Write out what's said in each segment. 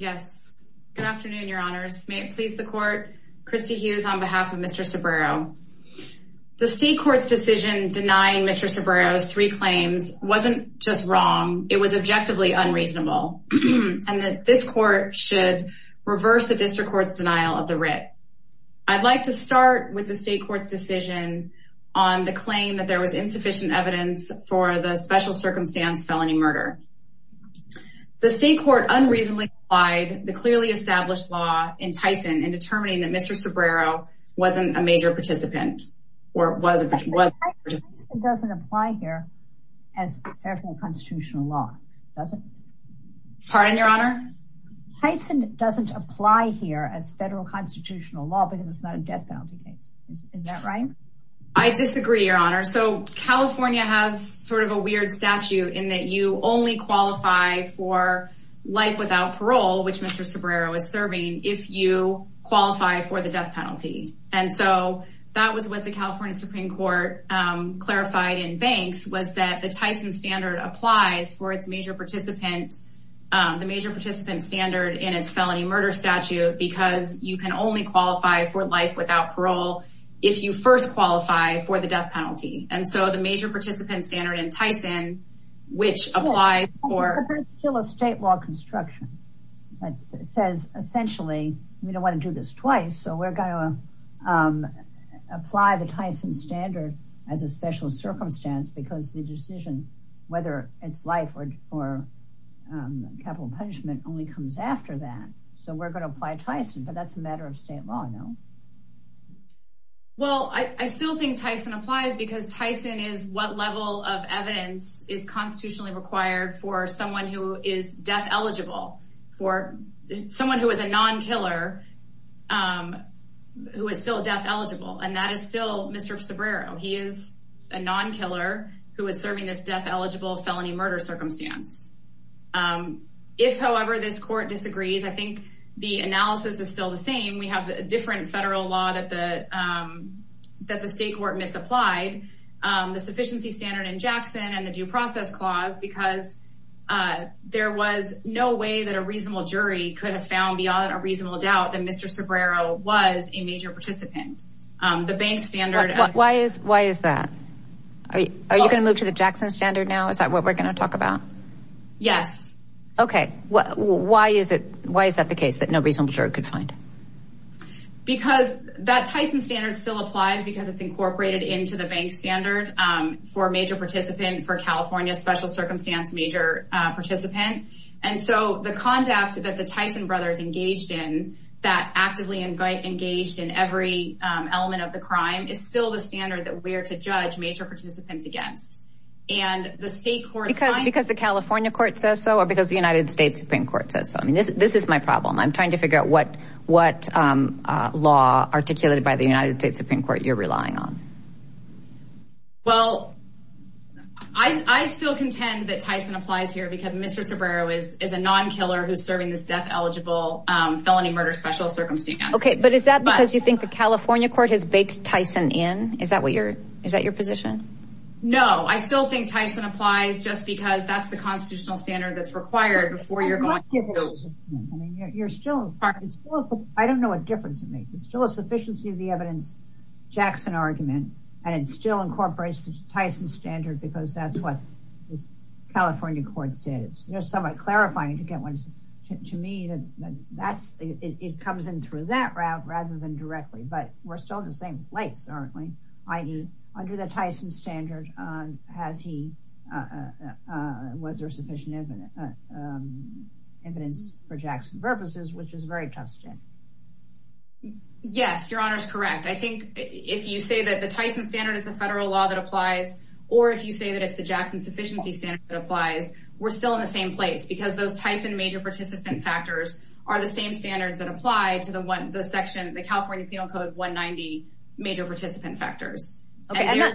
Good afternoon, your honors. May it please the court, Christy Hughes on behalf of Mr. Cebrero. The state court's decision denying Mr. Cebrero's three claims wasn't just wrong, it was objectively unreasonable, and that this court should reverse the district court's denial of the writ. I'd like to start with the state court's decision on the claim that there was unreasonably applied the clearly established law in Tyson and determining that Mr. Cebrero wasn't a major participant or wasn't. It doesn't apply here as federal constitutional law, does it? Pardon your honor? Tyson doesn't apply here as federal constitutional law because it's not a death penalty case. Is that right? I disagree, your honor. So California has sort of a weird statute in that you only qualify for life without parole, which Mr. Cebrero is serving, if you qualify for the death penalty. And so that was what the California Supreme Court clarified in banks was that the Tyson standard applies for its major participant, the major participant standard in its felony murder statute because you can only qualify for life without parole if you first qualify for the death penalty. And so the major participant standard in Tyson, which applies for still a state law construction that says essentially, we don't want to do this twice. So we're going to apply the Tyson standard as a special circumstance because the decision, whether it's life or capital punishment only comes after that. So we're going to apply Tyson, but that's a I still think Tyson applies because Tyson is what level of evidence is constitutionally required for someone who is death eligible for someone who is a non-killer who is still death eligible. And that is still Mr. Cebrero. He is a non-killer who is serving this death eligible felony murder circumstance. If however, this court disagrees, I think the analysis is still the same. We have a different federal law that the state court misapplied the sufficiency standard in Jackson and the due process clause because there was no way that a reasonable jury could have found beyond a reasonable doubt that Mr. Cebrero was a major participant. The bank standard. Why is that? Are you going to move to the Jackson standard now? Is that what we're going to talk about? Yes. Okay. Why is it? Why is that the case that no reasonable jury could find? Because that Tyson standard still applies because it's incorporated into the bank standard for a major participant for California special circumstance, major participant. And so the conduct that the Tyson brothers engaged in that actively engaged in every element of the crime is still the standard that we're to judge major participants against. And the state court... The California court says so, or because the United States Supreme Court says so. I mean, this is my problem. I'm trying to figure out what law articulated by the United States Supreme Court you're relying on. Well, I still contend that Tyson applies here because Mr. Cebrero is a non-killer who's serving this death eligible felony murder special circumstance. Okay. But is that because you think the California court has baked Tyson in? Is that your position? No, I still think Tyson applies just because that's the constitutional standard that's required before you're going. I don't know what difference it makes. It's still a sufficiency of the evidence Jackson argument, and it still incorporates the Tyson standard because that's what this California court says. There's some clarifying to get one to me that it comes in through that route rather than directly, but we're still in the same place, aren't we? Under the Tyson standard, was there sufficient evidence for Jackson purposes, which is a very tough step. Yes, your honor is correct. I think if you say that the Tyson standard is a federal law that applies, or if you say that it's the Jackson sufficiency standard that applies, we're still in the same place because those Tyson major participant factors are the same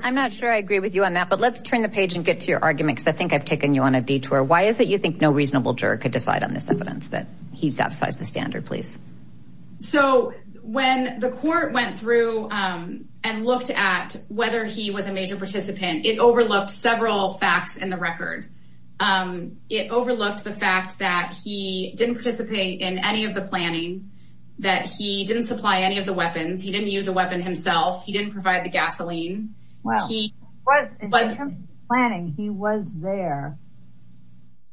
I'm not sure I agree with you on that, but let's turn the page and get to your argument because I think I've taken you on a detour. Why is it you think no reasonable juror could decide on this evidence that he satisfies the standard, please? So when the court went through and looked at whether he was a major participant, it overlooked several facts in the record. It overlooked the fact that he didn't participate in any of the planning, that he didn't supply any weapons, he didn't use a weapon himself, he didn't provide the gasoline. He was planning, he was there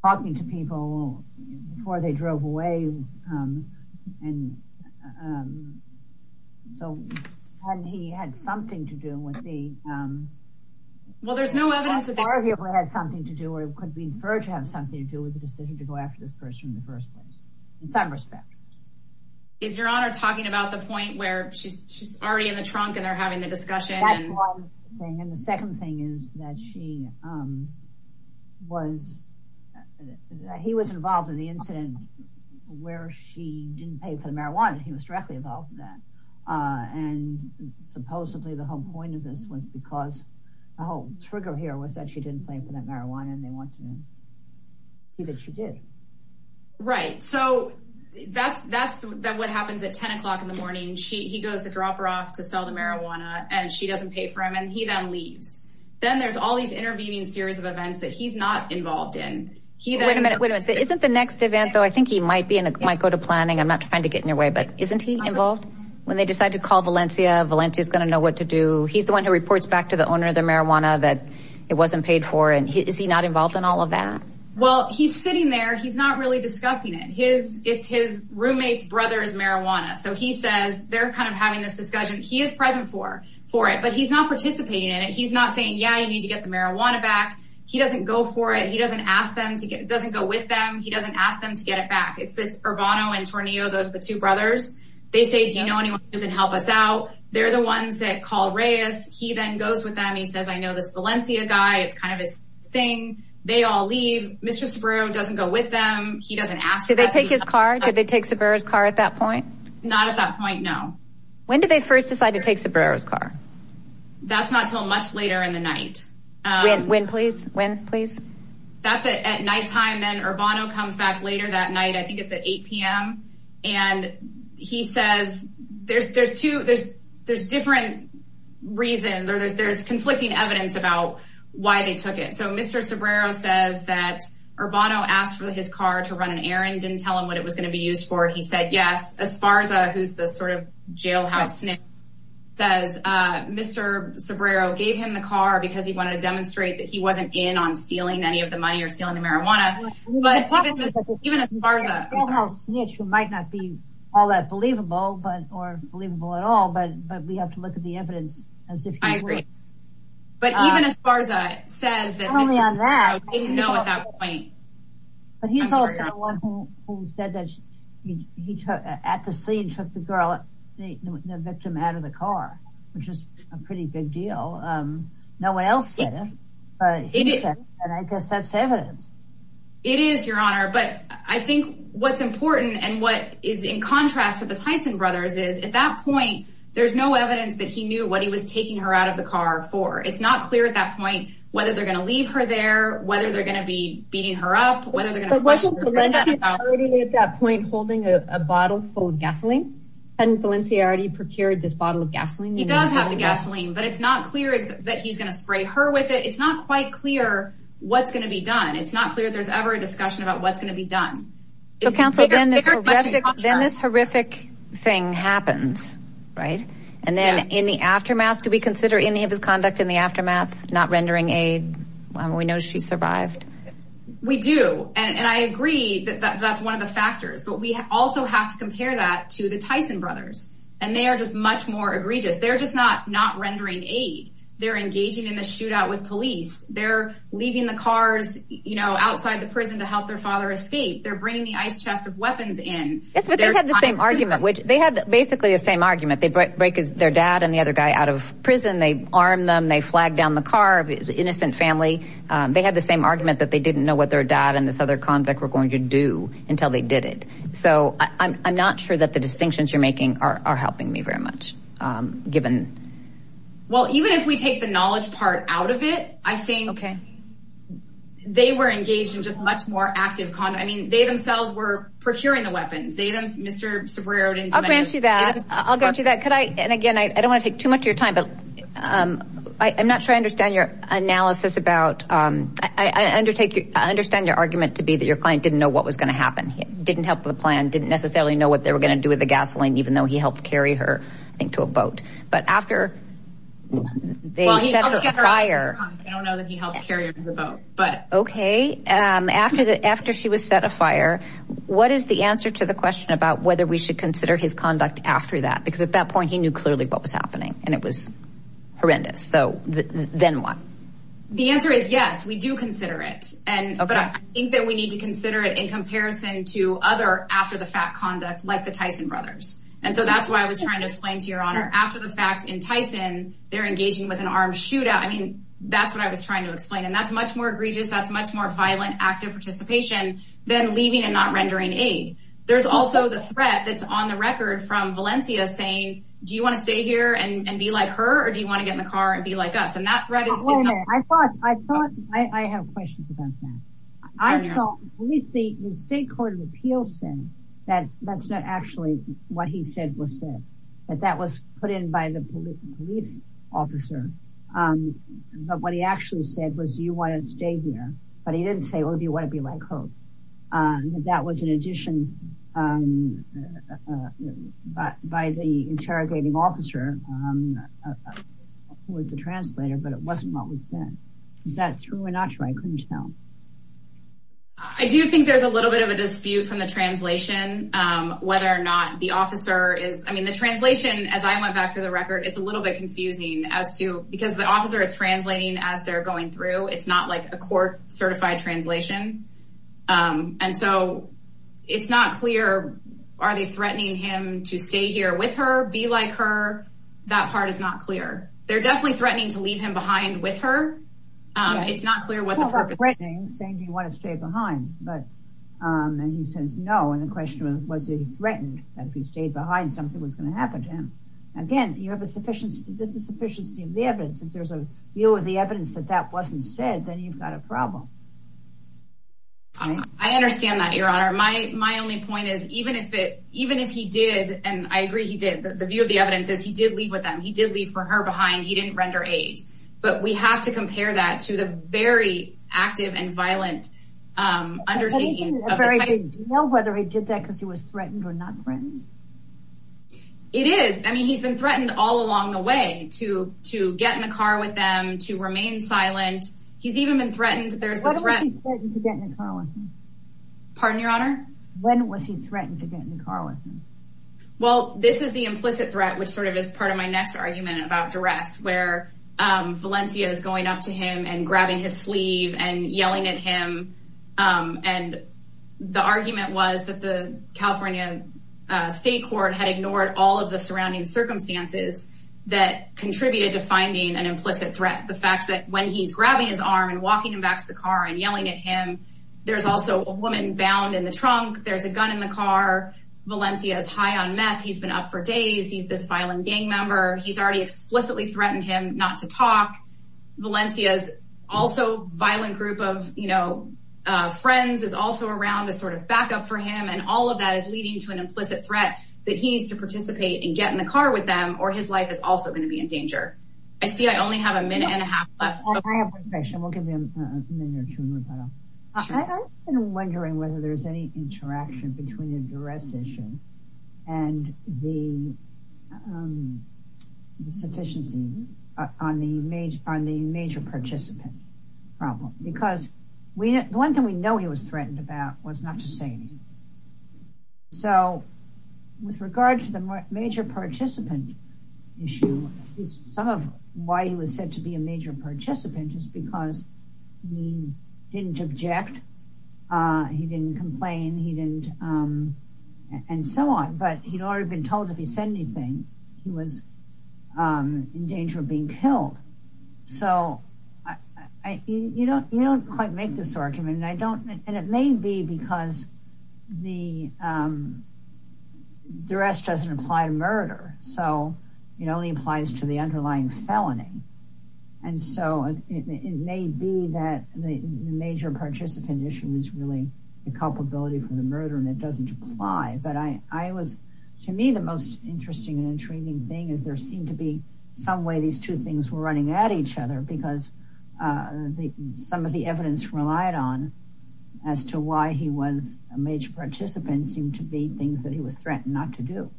talking to people before they drove away. And so he had something to do with the, well, there's no evidence that arguably had something to do or could be inferred to have something to do with the decision to go after this person in the first place, in some respect. Is your honor talking about the point where she's already in the trunk and they're having the discussion? And the second thing is that she was, he was involved in the incident where she didn't pay for the marijuana. He was directly involved in that. And supposedly the whole point of this was because the whole trigger here was that she didn't pay for that marijuana and they want to see that she did. Right. So that's what happens at 10 o'clock in the morning. He goes to drop her off to sell the marijuana and she doesn't pay for him and he then leaves. Then there's all these intervening series of events that he's not involved in. Wait a minute, isn't the next event though, I think he might go to planning. I'm not trying to get in your way, but isn't he involved? When they decide to call Valencia, Valencia is going to know what to do. He's the one who reports back to the owner of the marijuana that it wasn't paid for. And is he not involved in all of that? Well, he's sitting there. He's not really discussing it. It's his roommate's brother's marijuana. So he says they're kind of having this discussion. He is present for it, but he's not participating in it. He's not saying, yeah, you need to get the marijuana back. He doesn't go for it. He doesn't ask them to get, doesn't go with them. He doesn't ask them to get it back. It's this Urbano and Tornillo. Those are the two brothers. They say, do you know anyone who can help us out? They're the ones that call Reyes. He then goes with them. He says, I know this Valencia guy. It's kind of his thing. They all leave. Mr. Sobrero doesn't go with them. He doesn't ask. Did they take his car? Did they take Sobrero's car at that point? Not at that point. No. When did they first decide to take Sobrero's car? That's not till much later in the night. When, when, please, when, please. That's at nighttime. Then Urbano comes back later that night. I think it's at 8 p.m. And he says, there's, there's two, there's, there's different reasons, or there's, there's conflicting evidence about why they took it. So Mr. Sobrero says that Urbano asked for his car to run an errand, didn't tell him what it was going to be used for. He said, yes, Esparza, who's the sort of jailhouse says, Mr. Sobrero gave him the car because he wanted to demonstrate that he wasn't in on stealing any of the money or stealing the marijuana. All that believable, but, or believable at all, but, but we have to look at the evidence as if. I agree. But even Esparza says that Mr. Sobrero didn't know at that point. But he's also the one who said that he took, at the scene, took the girl, the victim out of the car, which was a pretty big deal. No one else said it, but he said it. And I guess that's evidence. It is your honor, but I think what's important and what is in contrast to the Tyson brothers is at that point, there's no evidence that he knew what he was taking her out of the car for. It's not clear at that point, whether they're going to leave her there, whether they're going to be beating her up, whether they're going to question her. At that point, holding a bottle full of gasoline and Valencia already procured this bottle of gasoline. He does have the gasoline, but it's not clear that he's going to spray her with it. It's not quite clear what's going to be done. It's not clear if there's ever a discussion about what's going to be done. So counsel, then this horrific thing happens, right? And then in the aftermath, do we consider any of his conduct in the aftermath, not rendering aid? We know she survived. We do. And I agree that that's one of the factors, but we also have to compare that to the Tyson brothers. And they are just much more egregious. They're just not rendering aid. They're engaging in the shootout with police. They're leaving the cars outside the prison to help their father escape. They're bringing the ice chest of weapons in. Yes, but they had the same argument, which they had basically the same argument. They break their dad and the other guy out of prison. They armed them. They flagged down the car of the innocent family. They had the same argument that they didn't know what their dad and this other convict were going to do until they did it. So I'm not sure that the distinctions you're making are helping me very much, given. Well, even if we take the knowledge part out of it, I think they were engaged in just much more active conduct. I mean, they themselves were procuring the weapons. They don't, Mr. Cerrero. I'll grant you that. I'll grant you that. Could I? And again, I don't want to take too much of your time, but I'm not sure I understand your analysis about I undertake. I understand your argument to be that your client didn't know what was going to happen, didn't help with the plan, didn't necessarily know what they were going to do with the gasoline, even though he helped carry her into a boat. But after they set a fire, I don't know that he helped carry the boat. But OK, after that, after she was set afire, what is the answer to the question about whether we should consider his conduct after that? Because at that point he knew clearly what was happening and it was horrendous. So then what? The answer is yes, we do consider it. And I think that we need to consider it in comparison to other after the fact conduct like the Tyson brothers. And so that's why I was trying to explain to your honor after the fact in Tyson, they're engaging with an armed shootout. I mean, that's what I was trying to explain. And that's much more egregious. That's much more violent, active participation than leaving and not rendering aid. There's also the threat that's on the record from Valencia saying, do you want to stay here and be like her or do you want to get in the car and be like us? And that's right. I thought I thought I have questions about that. I thought at least the state court of appeals said that that's not actually what he said was said, that that was put in by the police officer. But what he actually said was, do you want to stay here? But he didn't say, oh, do you want to be like her? That was an addition by the interrogating officer with the translator. But it wasn't what was said. Is that true or not? I couldn't tell. I do think there's a little bit of a dispute from the translation, whether or not the officer is I mean, the translation, as I went back to the record, it's a little bit confusing as to because the officer is translating as they're going through. It's not like a court certified translation. And so it's not clear. Are they threatening him to stay here with her, be like her? That part is not clear. They're definitely threatening to leave him behind with her. It's not clear what they're saying. Do you want to stay behind? But he says no. And the question was, was he threatened that if he stayed behind, something was going to happen to him again? You have a sufficiency. This is sufficiency of the evidence. And there's a view of the evidence that that wasn't said. Then you've got a problem. I understand that, Your Honor. My my only point is, even if it even if he did. And I agree he did. The view of the evidence is he did leave with them. He did leave for her behind. He didn't render aid. But we have to compare that to the very active and violent undertaking. Do you know whether he did that because he was threatened or not threatened? It is. I mean, he's been threatened all along the way to to get in the car with them, to remain silent. He's even been threatened. There's a threat to get in the car with him. Pardon, Your Honor. When was he threatened to get in the car with him? Well, this is the implicit threat, which sort of is part of my next argument about duress, where Valencia is going up to him and grabbing his sleeve and yelling at him. And the argument was that the California state court had ignored all of the surrounding circumstances that contributed to finding an implicit threat. The fact that when he's grabbing his arm and walking him back to the car and yelling at him, there's also a woman bound in the trunk. There's a gun in the car. Valencia is high on meth. He's been up for days. He's this gang member. He's already explicitly threatened him not to talk. Valencia's also violent group of, you know, friends is also around as sort of backup for him. And all of that is leading to an implicit threat that he needs to participate and get in the car with them, or his life is also going to be in danger. I see I only have a minute and a half left. I have one question. We'll give you a minute or two. I've been wondering whether there's any interaction between the duress issue and the sufficiency on the major participant problem. Because the one thing we know he was threatened about was not to say anything. So with regard to the major participant issue, some of why he was said to be a major participant is because he didn't object. He didn't complain. And so on. But he'd already been told if he said anything, he was in danger of being killed. So you don't quite make this argument. And it may be because the duress doesn't apply to murder. So it only applies to the underlying felony. And so it may be that the major participant issue is really the culpability for the murder, and it doesn't apply. But I was, to me, the most interesting and intriguing thing is there seemed to be some way these two things were running at each other because some of the evidence relied on as to why he was a major participant seemed to be things that he was threatened not to do.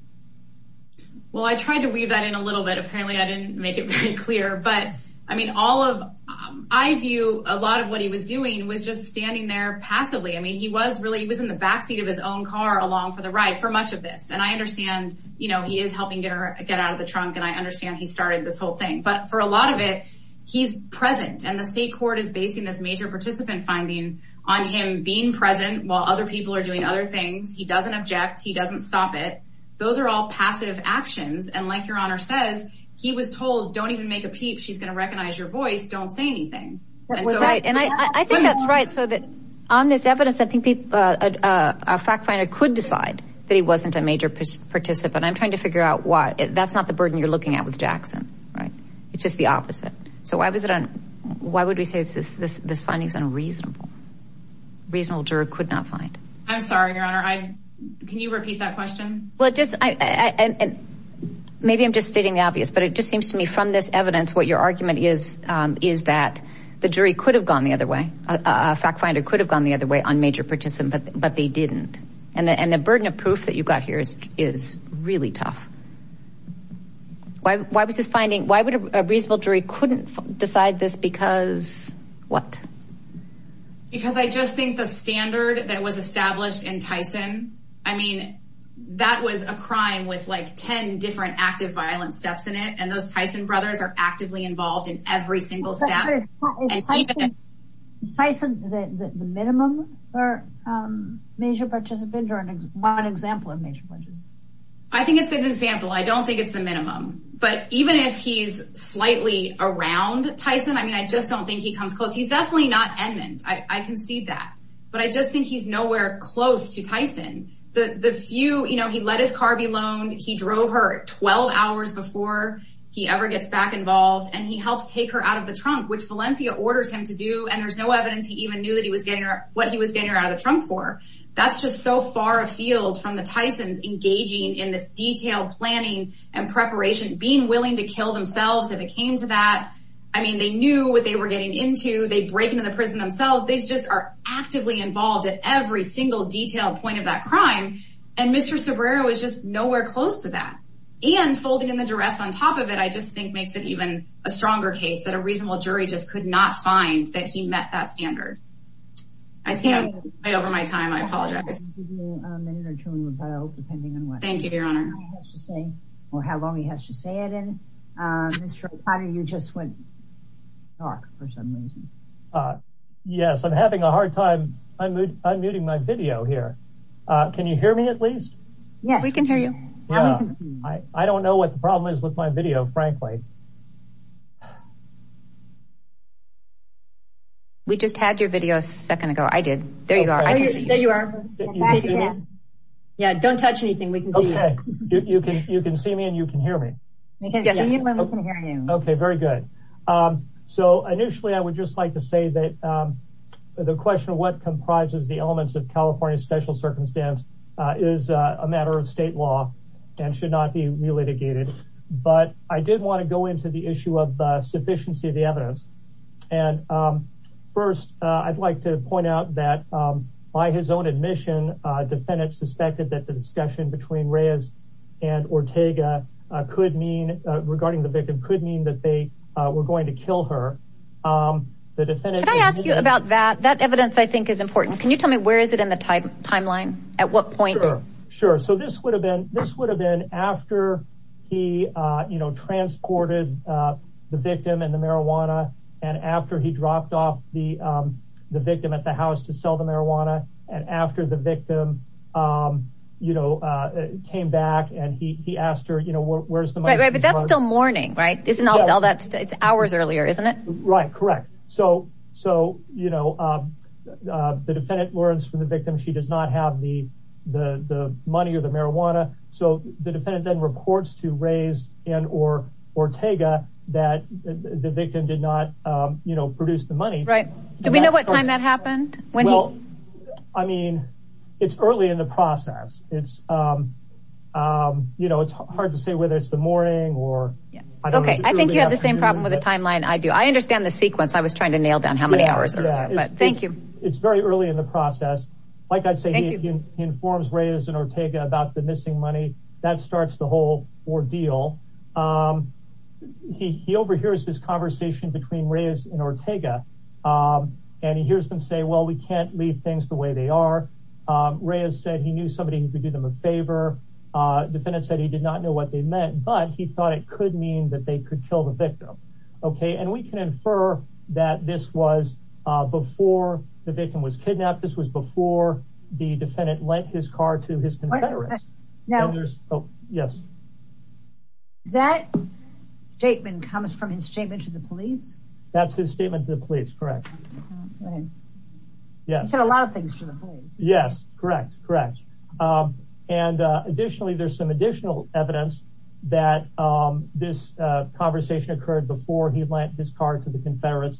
Well, I tried to weave that in a little bit. Apparently, I didn't make it very clear. But I mean, all of, I view a lot of what he was doing was just standing there passively. I mean, he was really, he was in the backseat of his own car along for the ride for much of this. And I understand, you know, he is helping get her get out of the trunk. And I understand he started this whole thing. But for a lot of it, he's present. And the state court is basing this major participant finding on him being present while other people are doing other things. He doesn't object. He all passive actions. And like Your Honor says, he was told, don't even make a peep. She's going to recognize your voice. Don't say anything. That's right. And I think that's right. So that on this evidence, I think a fact finder could decide that he wasn't a major participant. I'm trying to figure out why. That's not the burden you're looking at with Jackson, right? It's just the opposite. So why was it on? Why would we say this finding is unreasonable? Reasonable juror could not find. I'm sorry, Your Honor. Can you repeat that question? Well, just maybe I'm just stating the obvious, but it just seems to me from this evidence, what your argument is, is that the jury could have gone the other way. A fact finder could have gone the other way on major participant, but they didn't. And the burden of proof that you've got here is really tough. Why was this finding? Why would a reasonable jury couldn't decide this? Because what? Because I just think the standard that was established in Tyson, I mean, that was a crime with like 10 different active violence steps in it. And those Tyson brothers are actively involved in every single step. Is Tyson the minimum for major participant or an example of major participant? I think it's an example. I don't think it's the minimum. But even if he's slightly around Tyson, I mean, I just don't think he comes close. He's definitely not Edmond. I can see that. But I just think he's nowhere close to Tyson. The few, you know, he let his car be loaned. He drove her 12 hours before he ever gets back involved. And he helps take her out of the trunk, which Valencia orders him to do. And there's no evidence he even knew that he was getting what he was getting out of the trunk for. That's just so far afield from the Tyson's engaging in this detailed planning and preparation, being willing to kill themselves if it came to that. I mean, they knew what they were getting into. They break into the prison themselves. They just are actively involved at every single detailed point of that crime. And Mr. Sobrero is just nowhere close to that. And folding in the duress on top of it, I just think makes it even a stronger case that a reasonable jury just could not find that he met that standard. I see I'm way over my time. I apologize. Thank you, Your Honor. Well, how long he has to say it in. Mr. O'Connor, you just went dark for some reason. Yes, I'm having a hard time. I'm unmuting my video here. Can you hear me at least? Yes, we can hear you. I don't know what the problem is with my video, frankly. We just had your video a second ago. I did. There you are. Yeah, don't touch anything. You can see me and you can hear me. Okay, very good. So initially, I would just like to say that the question of what comprises the elements of California special circumstance is a matter of state law and should not be re-litigated. But I did want to go into the issue of sufficiency of the evidence. And first, I'd like to point out that by his own admission, defendants suspected that the discussion between Reyes and Ortega could mean regarding the victim could mean that they were going to kill her. Can I ask you about that? That evidence, I think, is important. Can you tell me where is it in the timeline? At what point? Sure. So this would have been after he transported the victim and the marijuana and after he dropped off the victim at house to sell the marijuana. And after the victim came back and he asked her, where's the money? But that's still morning, right? It's hours earlier, isn't it? Right, correct. So the defendant learns from the victim she does not have the money or the marijuana. So the defendant then reports to Reyes and Ortega that the victim did not produce the money. Right. Do we know what time that happened? Well, I mean, it's early in the process. It's, you know, it's hard to say whether it's the morning or. OK, I think you have the same problem with the timeline. I do. I understand the sequence. I was trying to nail down how many hours. But thank you. It's very early in the process. Like I say, he informs Reyes and Ortega about the missing money. That starts the whole ordeal. He overhears this conversation between Reyes and Ortega and he hears them say, well, we can't leave things the way they are. Reyes said he knew somebody who could do them a favor. The defendant said he did not know what they meant, but he thought it could mean that they could kill the victim. OK, and we can infer that this was before the victim was kidnapped. This was before the defendant lent his car to his confederate. Yes. That statement comes from his statement to the police. That's his statement to the police. Correct. Yes. He said a lot of things to the police. Yes. Correct. Correct. And additionally, there's some additional evidence that this conversation occurred before he lent his car to the Confederates.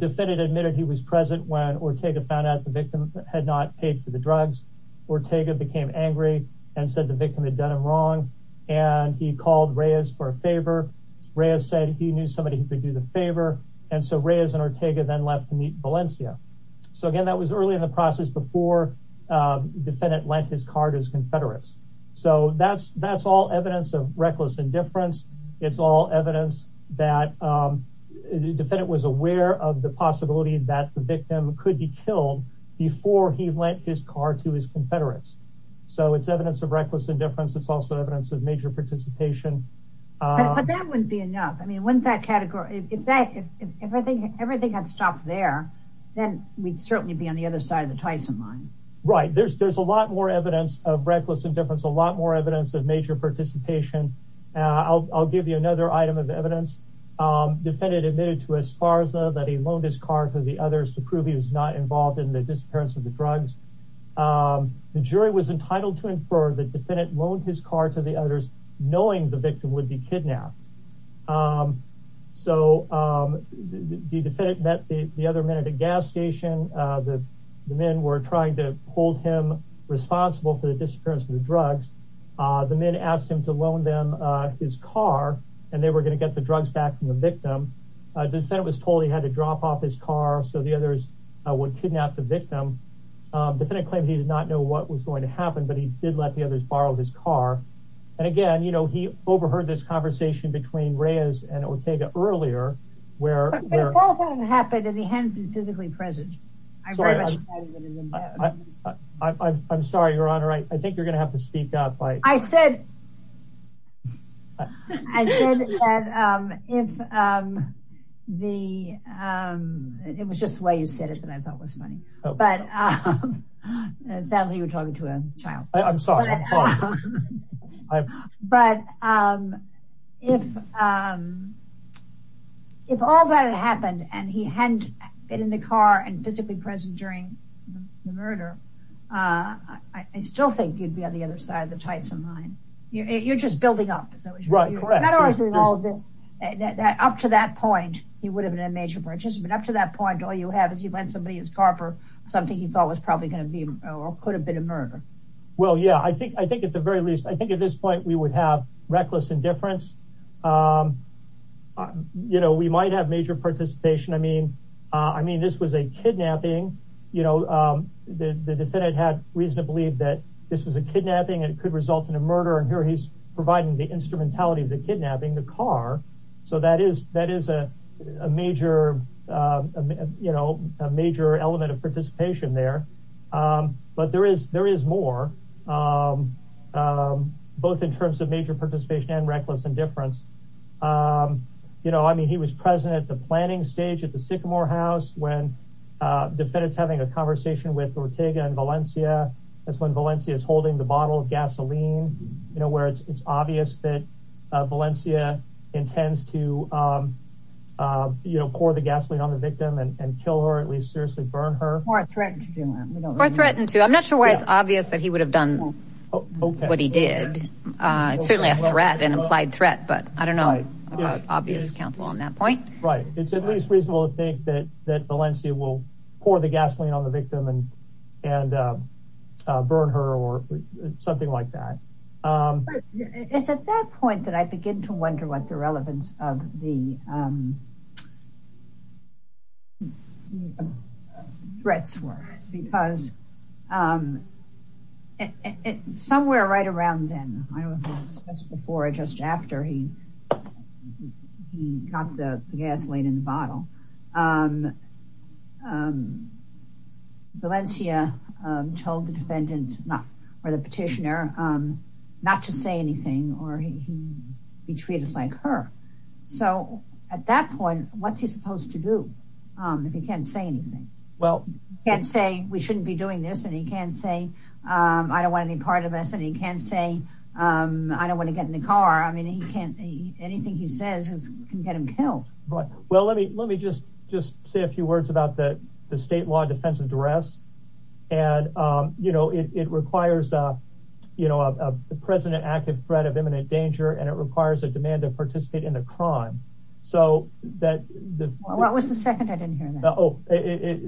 Defendant admitted he was present when Ortega found out the victim had not paid for the drugs. Ortega became angry and said the victim had done him wrong. And he called Reyes for a favor. Reyes said he knew somebody who could do the favor. And so Reyes and Ortega then left to meet Valencia. So, again, that was early in the process before the defendant lent his car to his confederates. So that's all evidence of reckless indifference. It's all evidence that the defendant was aware of the possibility that the victim could be killed before he lent his car to his confederates. So it's evidence of reckless indifference. It's also evidence of major participation. But that wouldn't be enough. I mean, wouldn't that category, if everything had stopped there, then we'd certainly be on the other side of the Tyson line. Right. There's a lot more evidence of reckless indifference, a lot more evidence of major participation. I'll give you another item of evidence. Defendant admitted to Esparza that he loaned his car to the others to prove he was not involved in the disappearance of the drugs. The jury was entitled to infer the defendant loaned his car to the others, knowing the victim would be kidnapped. So the defendant met the other men at a gas station. The men were trying to hold him responsible for the disappearance of the drugs. The men asked him to loan them his car and they were going to get the drugs back from the victim. The defendant was told he had to drop off his car so the others would kidnap the victim. The defendant claimed he did not know what was going to happen, but he did let the others borrow his car. And again, you know, he overheard this conversation between Reyes and Ortega earlier, where it happened and he hadn't been physically present. I'm sorry, Your Honor. I think you're right. I said, I said that if the, it was just the way you said it that I thought was funny, but it sounds like you were talking to a child. I'm sorry. But if all that had happened and he hadn't been in the car and physically present during the murder, I still think you'd be on the other side of the Tyson line. You're just building up. So you're not arguing all of this. Up to that point, he would have been a major participant. Up to that point, all you have is he lent somebody his car for something he thought was probably going to be or could have been a murder. Well, yeah, I think, I think at the very least, I think at this point, we would have reckless indifference. You know, we might have major participation. I mean, this was a kidnapping. You know, the defendant had reason to believe that this was a kidnapping and it could result in a murder. And here he's providing the instrumentality of the kidnapping, the car. So that is, that is a major, you know, a major element of participation there. But there is, there is more both in terms of major participation and reckless indifference. Um, you know, I mean, he was present at the planning stage at the Sycamore house when, uh, defendants having a conversation with Ortega and Valencia. That's when Valencia is holding the bottle of gasoline, you know, where it's, it's obvious that, uh, Valencia intends to, um, uh, you know, pour the gasoline on the victim and kill her, at least seriously burn her or threaten to, I'm not sure why it's obvious that he would have done what he did. Uh, it's certainly a threat and implied threat, but I don't know about obvious counsel on that point. Right. It's at least reasonable to think that, that Valencia will pour the gasoline on the victim and, and, uh, uh, burn her or something like that. Um, it's at that point that I begin to before, just after he, he got the gasoline in the bottle. Um, um, Valencia, um, told the defendant not, or the petitioner, um, not to say anything or he, he treated us like her. So at that point, what's he supposed to do? Um, if he can't say anything, well, can't say we shouldn't be doing this and he can't say, um, I don't want any part of us and he can't say, um, I don't want to get in the car. I mean, he can't, he, anything he says can get him killed. Right. Well, let me, let me just, just say a few words about the, the state law defense of duress. And, um, you know, it, it requires, uh, you know, uh, the president active threat of imminent danger, and it requires a demand to participate in a crime. So that was the second I didn't hear that. Oh, it,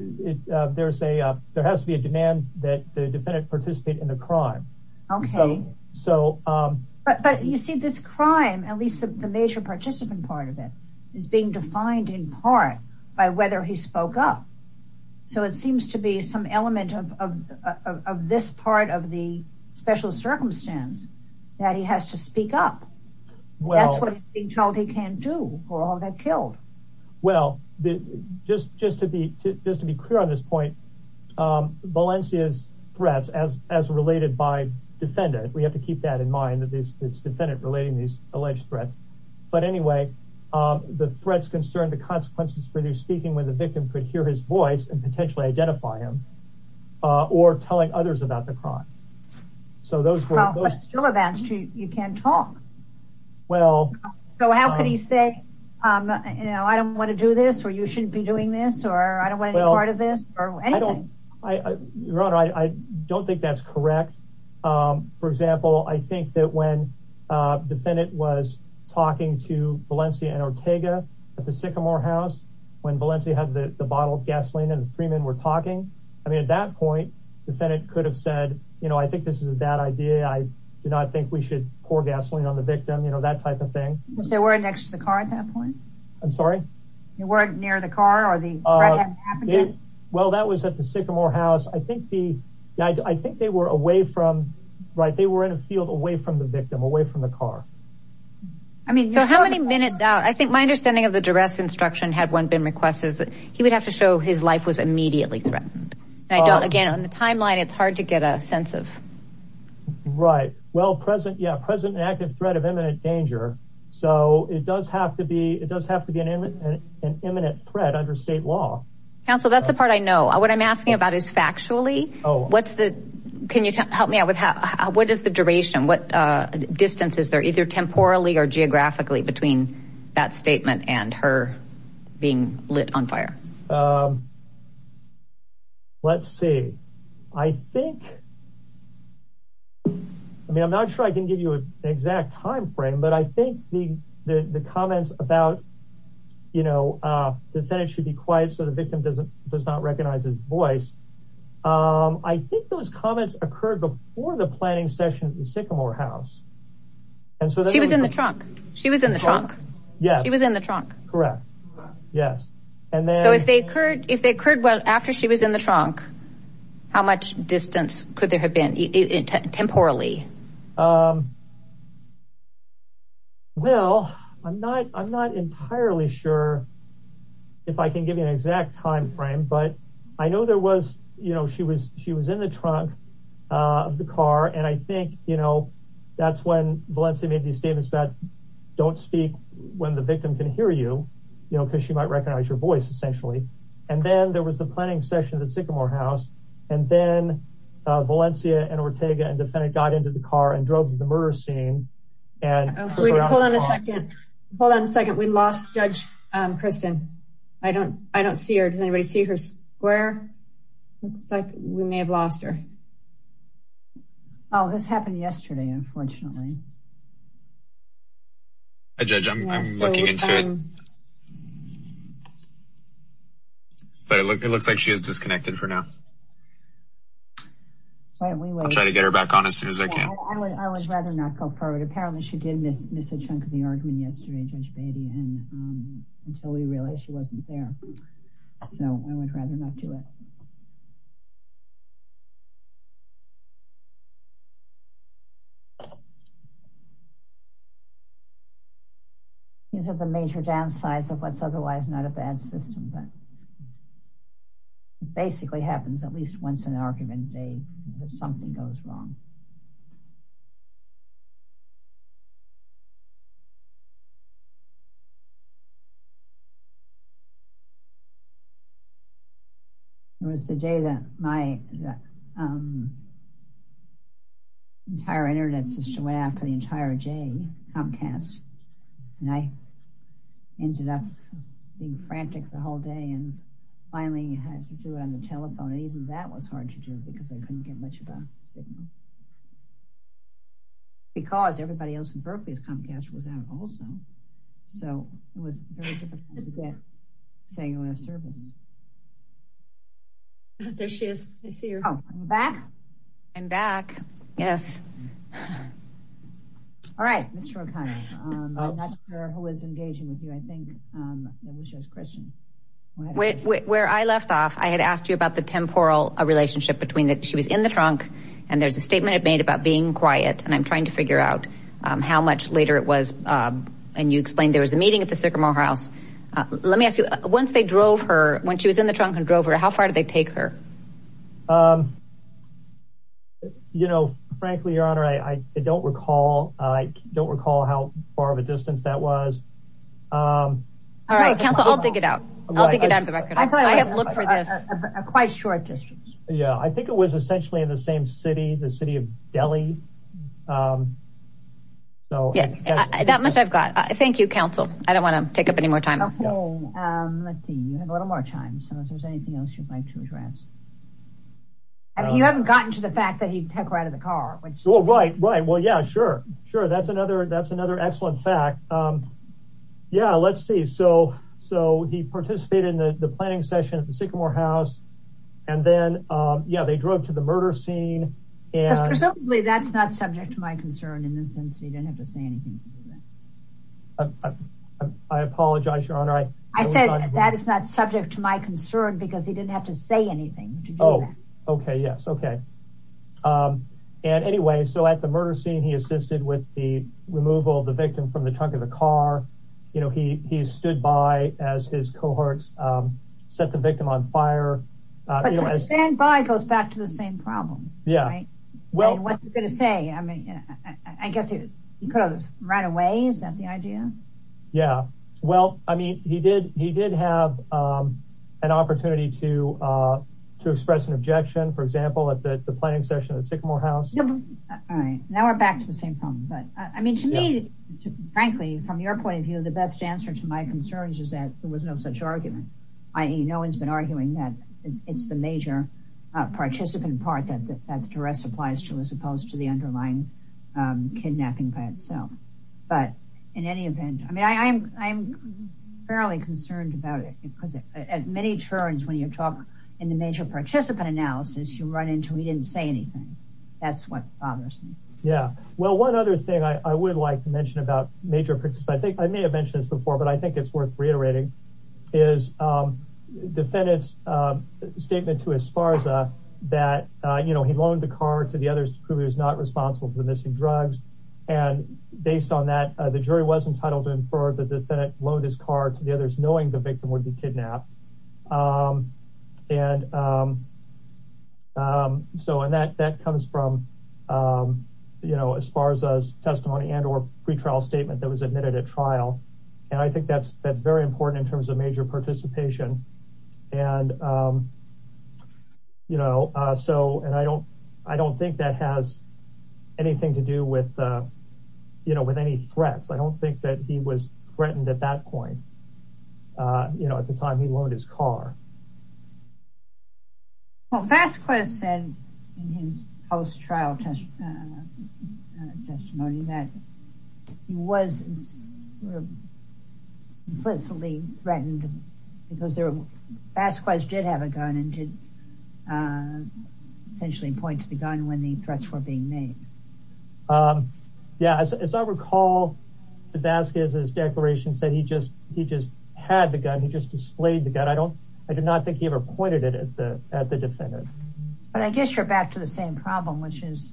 it, uh, there's a, uh, there has to be a demand that the defendant participate in the crime. Okay. So, um, but, but you see this crime, at least the major participant part of it is being defined in part by whether he spoke up. So it seems to be some element of, of, of, of this part of the special circumstance that he has to speak up. Well, that's what he can do for all that killed. Well, just, just to be, just to be clear on this point, um, Valencia's threats as, as related by defendant, we have to keep that in mind that these it's defendant relating these alleged threats, but anyway, um, the threats concern, the consequences for you speaking with a victim could hear his voice and potentially identify him, uh, or telling others about the crime. So those were still advanced. You can't talk. Well, so how could he say, um, you know, I don't want to do this or you shouldn't be doing this or I don't want any part of this or anything. I don't think that's correct. Um, for example, I think that when, uh, defendant was talking to Valencia and Ortega at the sycamore house, when Valencia had the bottle of gasoline and Freeman were talking, I mean, at that point, defendant could have said, you know, I think this is a bad idea. I do not think we should pour gasoline on the victim. You know, that type of thing. Was there a word next to the car at that point? I'm sorry. You weren't near the car or the, uh, well, that was at the sycamore house. I think the, I think they were away from, right. They were in a field away from the victim away from the car. I mean, so how many minutes out? I think my understanding of the duress instruction had been requested that he would have to show his life was immediately threatened. And I don't, again, on the timeline, it's hard to get a sense of. Right. Well, present, yeah. Present and active threat of imminent danger. So it does have to be, it does have to be an imminent threat under state law. Counsel, that's the part I know. What I'm asking about is factually, oh, what's the, can you help me out with how, what is the duration? What, uh, either temporally or geographically between that statement and her being lit on fire? Let's see, I think, I mean, I'm not sure I can give you an exact timeframe, but I think the, the, the comments about, you know, uh, defendants should be quiet. So the victim doesn't, does not recognize his voice. Um, I think those comments occurred before the planning session at the sycamore house. And so she was in the trunk. She was in the trunk. Yeah. He was in the trunk. Correct. Yes. And then if they occurred, if they occurred, well, after she was in the trunk, how much distance could there have been temporarily? Um, well, I'm not, I'm not entirely sure if I can give you an exact timeframe, but I know there was, you know, she was, she was in the trunk of the car. And I think, you know, that's when Valencia made these statements about don't speak when the victim can hear you, you know, cause she might recognize your voice essentially. And then there was the planning session at the sycamore house. And then, uh, Valencia and Ortega and defendant got into the car and drove to the murder scene. And hold on a second. Hold on a second. We lost judge. Um, Kristen, I don't, I don't see her. Does anybody see her square? Looks like we may have lost her. Oh, this happened yesterday. Unfortunately. I judge I'm looking into it, but it looks like she has disconnected for now. I'll try to get her back on as soon as I can. I would rather not go forward. Apparently she did miss miss a chunk of the argument yesterday, judge Beatty. And, um, until we realized she would rather not do it. These are the major downsides of what's otherwise not a bad system, but it basically happens at least once an argument day that something goes wrong. It was the day that my, um, entire internet system went out for the entire J Comcast. And I ended up being frantic the whole day and finally had to do it on the telephone. And even that was hard to do because I couldn't get much of a signal because everybody else in Berkeley has Comcast was out also. So it was very difficult to get cellular service. There she is. I see her back. I'm back. Yes. All right. Mr. O'Connor. Um, I'm not sure who is engaging with you. I think, um, just question where I left off. I had asked you about the temporal relationship between the, she was in the trunk and there's a statement I've made about being quiet. And I'm trying to figure out, um, how much later it was. Um, and you explained there was a meeting at the Sycamore house. Uh, let me ask you once they drove her when she was in the trunk and drove her, how far did they take her? Um, you know, frankly, your honor, I don't recall. I don't recall how far that was. Um, all right. Counsel, I'll dig it out. I'll dig it out of the record. I have looked for this a quite short distance. Yeah. I think it was essentially in the same city, the city of Delhi. Um, so that much I've got, I thank you counsel. I don't want to take up any more time. Let's see. You have a little more time. So if there's anything else you'd like to address, I mean, you haven't gotten to the fact that he took her out of the car. Right. Right. Well, yeah, sure. Sure. That's another, that's another excellent fact. Um, yeah, let's see. So, so he participated in the planning session at the Sycamore house and then, um, yeah, they drove to the murder scene and that's not subject to my concern in this sense. He didn't have to say anything. I apologize, your honor. I said that is not subject to my concern because he didn't have to say anything to do that. Okay. Yes. Okay. Um, and anyway, so at the murder scene, he assisted with the removal of the victim from the trunk of the car. You know, he, he stood by as his cohorts, um, set the victim on fire. Standby goes back to the same problem. Yeah. Well, what's he going to say? I mean, I guess he, he could have run away. Is that the idea? Yeah. Well, I mean, he did, he did have, um, an opportunity to, uh, to express an objection, for example, at the planning session at the Sycamore house. All right. Now we're back to the same problem, but I mean, to me, frankly, from your point of view, the best answer to my concerns is that there was no such argument. I, no one's been arguing that it's the major, uh, participant part that the, that the duress applies to, as opposed to the underlying, um, kidnapping by itself. But in any event, I mean, I'm fairly concerned about it because at many turns, when you talk in the major participant analysis, you run into, he didn't say anything. That's what bothers me. Yeah. Well, one other thing I would like to mention about major participants, I think I may have mentioned this before, but I think it's worth reiterating is, um, defendant's, um, statement to Esparza that, uh, you know, he loaned the car to the others to prove he was not responsible for the Lotus car to the others, knowing the victim would be kidnapped. Um, and, um, um, so, and that, that comes from, um, you know, as far as us testimony and or pretrial statement that was admitted at trial. And I think that's, that's very important in terms of major participation. And, um, you know, uh, so, and I don't, I don't think that has anything to do with, uh, you know, with any threats. I don't think that he was threatened at that point, uh, you know, at the time he loaned his car. Well, Vasquez said in his post trial test, uh, uh, testimony that he was implicitly threatened because there were, Vasquez did have a gun and did, uh, essentially point to the gun when the um, yeah, as I recall, Vasquez, his declaration said he just, he just had the gun. He just displayed the gun. I don't, I did not think he ever pointed it at the, at the defendant. But I guess you're back to the same problem, which is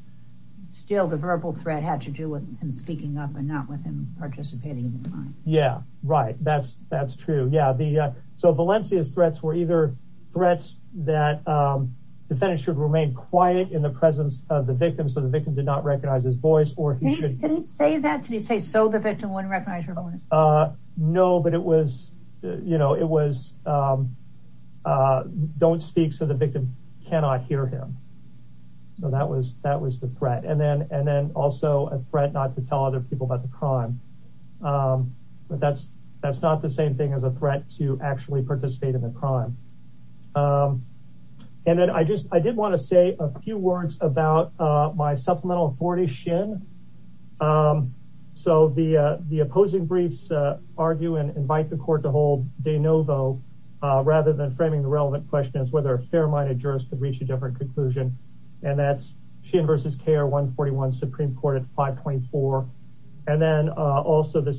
still the verbal threat had to do with him speaking up and not with him participating in the crime. Yeah. Right. That's, that's true. Yeah. The, uh, so Valencia's threats were either threats that, um, defendants should remain quiet in the presence of the victim. So the victim did not recognize his voice or he shouldn't say that to be safe. So the victim wouldn't recognize her. Uh, no, but it was, you know, it was, um, uh, don't speak. So the victim cannot hear him. So that was, that was the threat. And then, and then also a threat not to tell other people about the crime. Um, but that's, that's not the same thing as a threat to actually participate in crime. Um, and then I just, I did want to say a few words about, uh, my supplemental 40 shin. Um, so the, uh, the opposing briefs, uh, argue and invite the court to hold de novo, uh, rather than framing the relevant question is whether a fair-minded jurist could reach a different conclusion and that's shin versus care one 41 Supreme court at 5.4. And then, uh, also the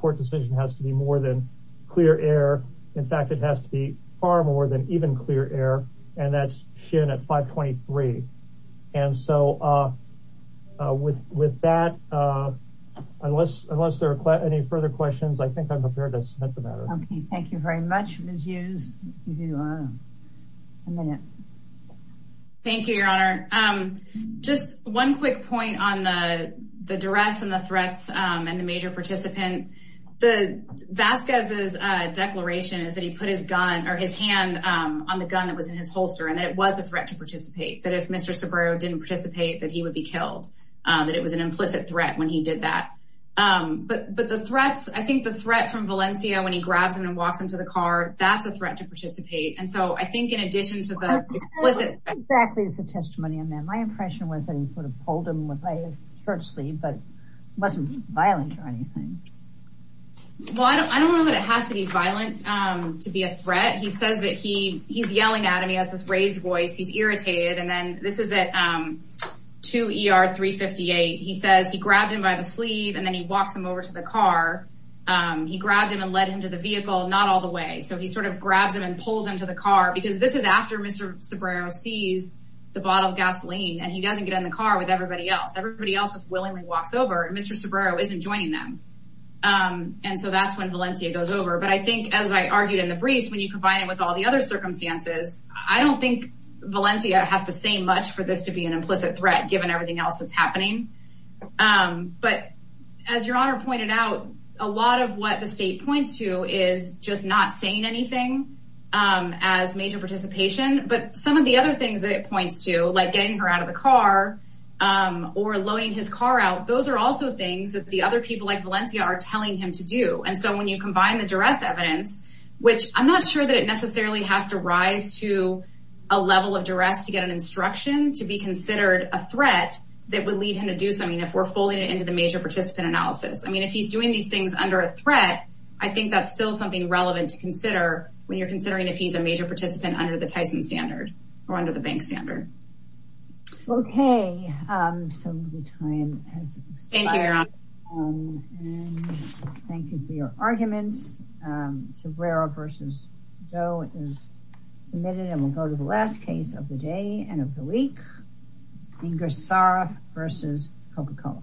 court decision has to be more than clear air. In fact, it has to be far more than even clear air. And that's shin at 5 23. And so, uh, uh, with, with that, uh, unless, unless there are any further questions, I think I'm prepared to submit the matter. Okay. Thank you very much. Thank you, your honor. Um, just one quick point on the, the duress and the threats, um, and the participant, the Vasquez's, uh, declaration is that he put his gun or his hand, um, on the gun that was in his holster. And that it was a threat to participate that if Mr. Saburo didn't participate, that he would be killed. Um, that it was an implicit threat when he did that. Um, but, but the threats, I think the threat from Valencia, when he grabs him and walks into the car, that's a threat to participate. And so I think in addition to the explicit. Exactly. It's a testimony on that. My impression was that he sort of pulled him with a sleeve, but it wasn't violent or anything. Well, I don't, I don't know that it has to be violent, um, to be a threat. He says that he, he's yelling at him. He has this raised voice, he's irritated. And then this is at, um, two ER three 58. He says he grabbed him by the sleeve and then he walks him over to the car. Um, he grabbed him and led him to the vehicle, not all the way. So he sort of grabs him and pulls him to the car because this is after Mr. Saburo sees the bottle of gasoline and he doesn't get in the car with everybody else. Everybody else just willingly walks over and Mr. Saburo isn't joining them. Um, and so that's when Valencia goes over. But I think as I argued in the briefs, when you combine it with all the other circumstances, I don't think Valencia has to say much for this to be an implicit threat, given everything else that's happening. Um, but as your honor pointed out, a lot of what the state points to is just not saying anything, um, as major participation, but some of the other things that it points to, like getting her out of the car, um, or loading his car out. Those are also things that the other people like Valencia are telling him to do. And so when you combine the duress evidence, which I'm not sure that it necessarily has to rise to a level of duress to get an instruction, to be considered a threat that would lead him to do something if we're folding it into the major participant analysis. I mean, if he's doing these things under a threat, I think that's still something relevant to consider when you're considering if he's a bank stander. Okay. Um, so the time has expired. Thank you for your arguments. Um, Sabrera versus Joe is submitted and we'll go to the last case of the day and of the week. Ingersoll versus Coca-Cola.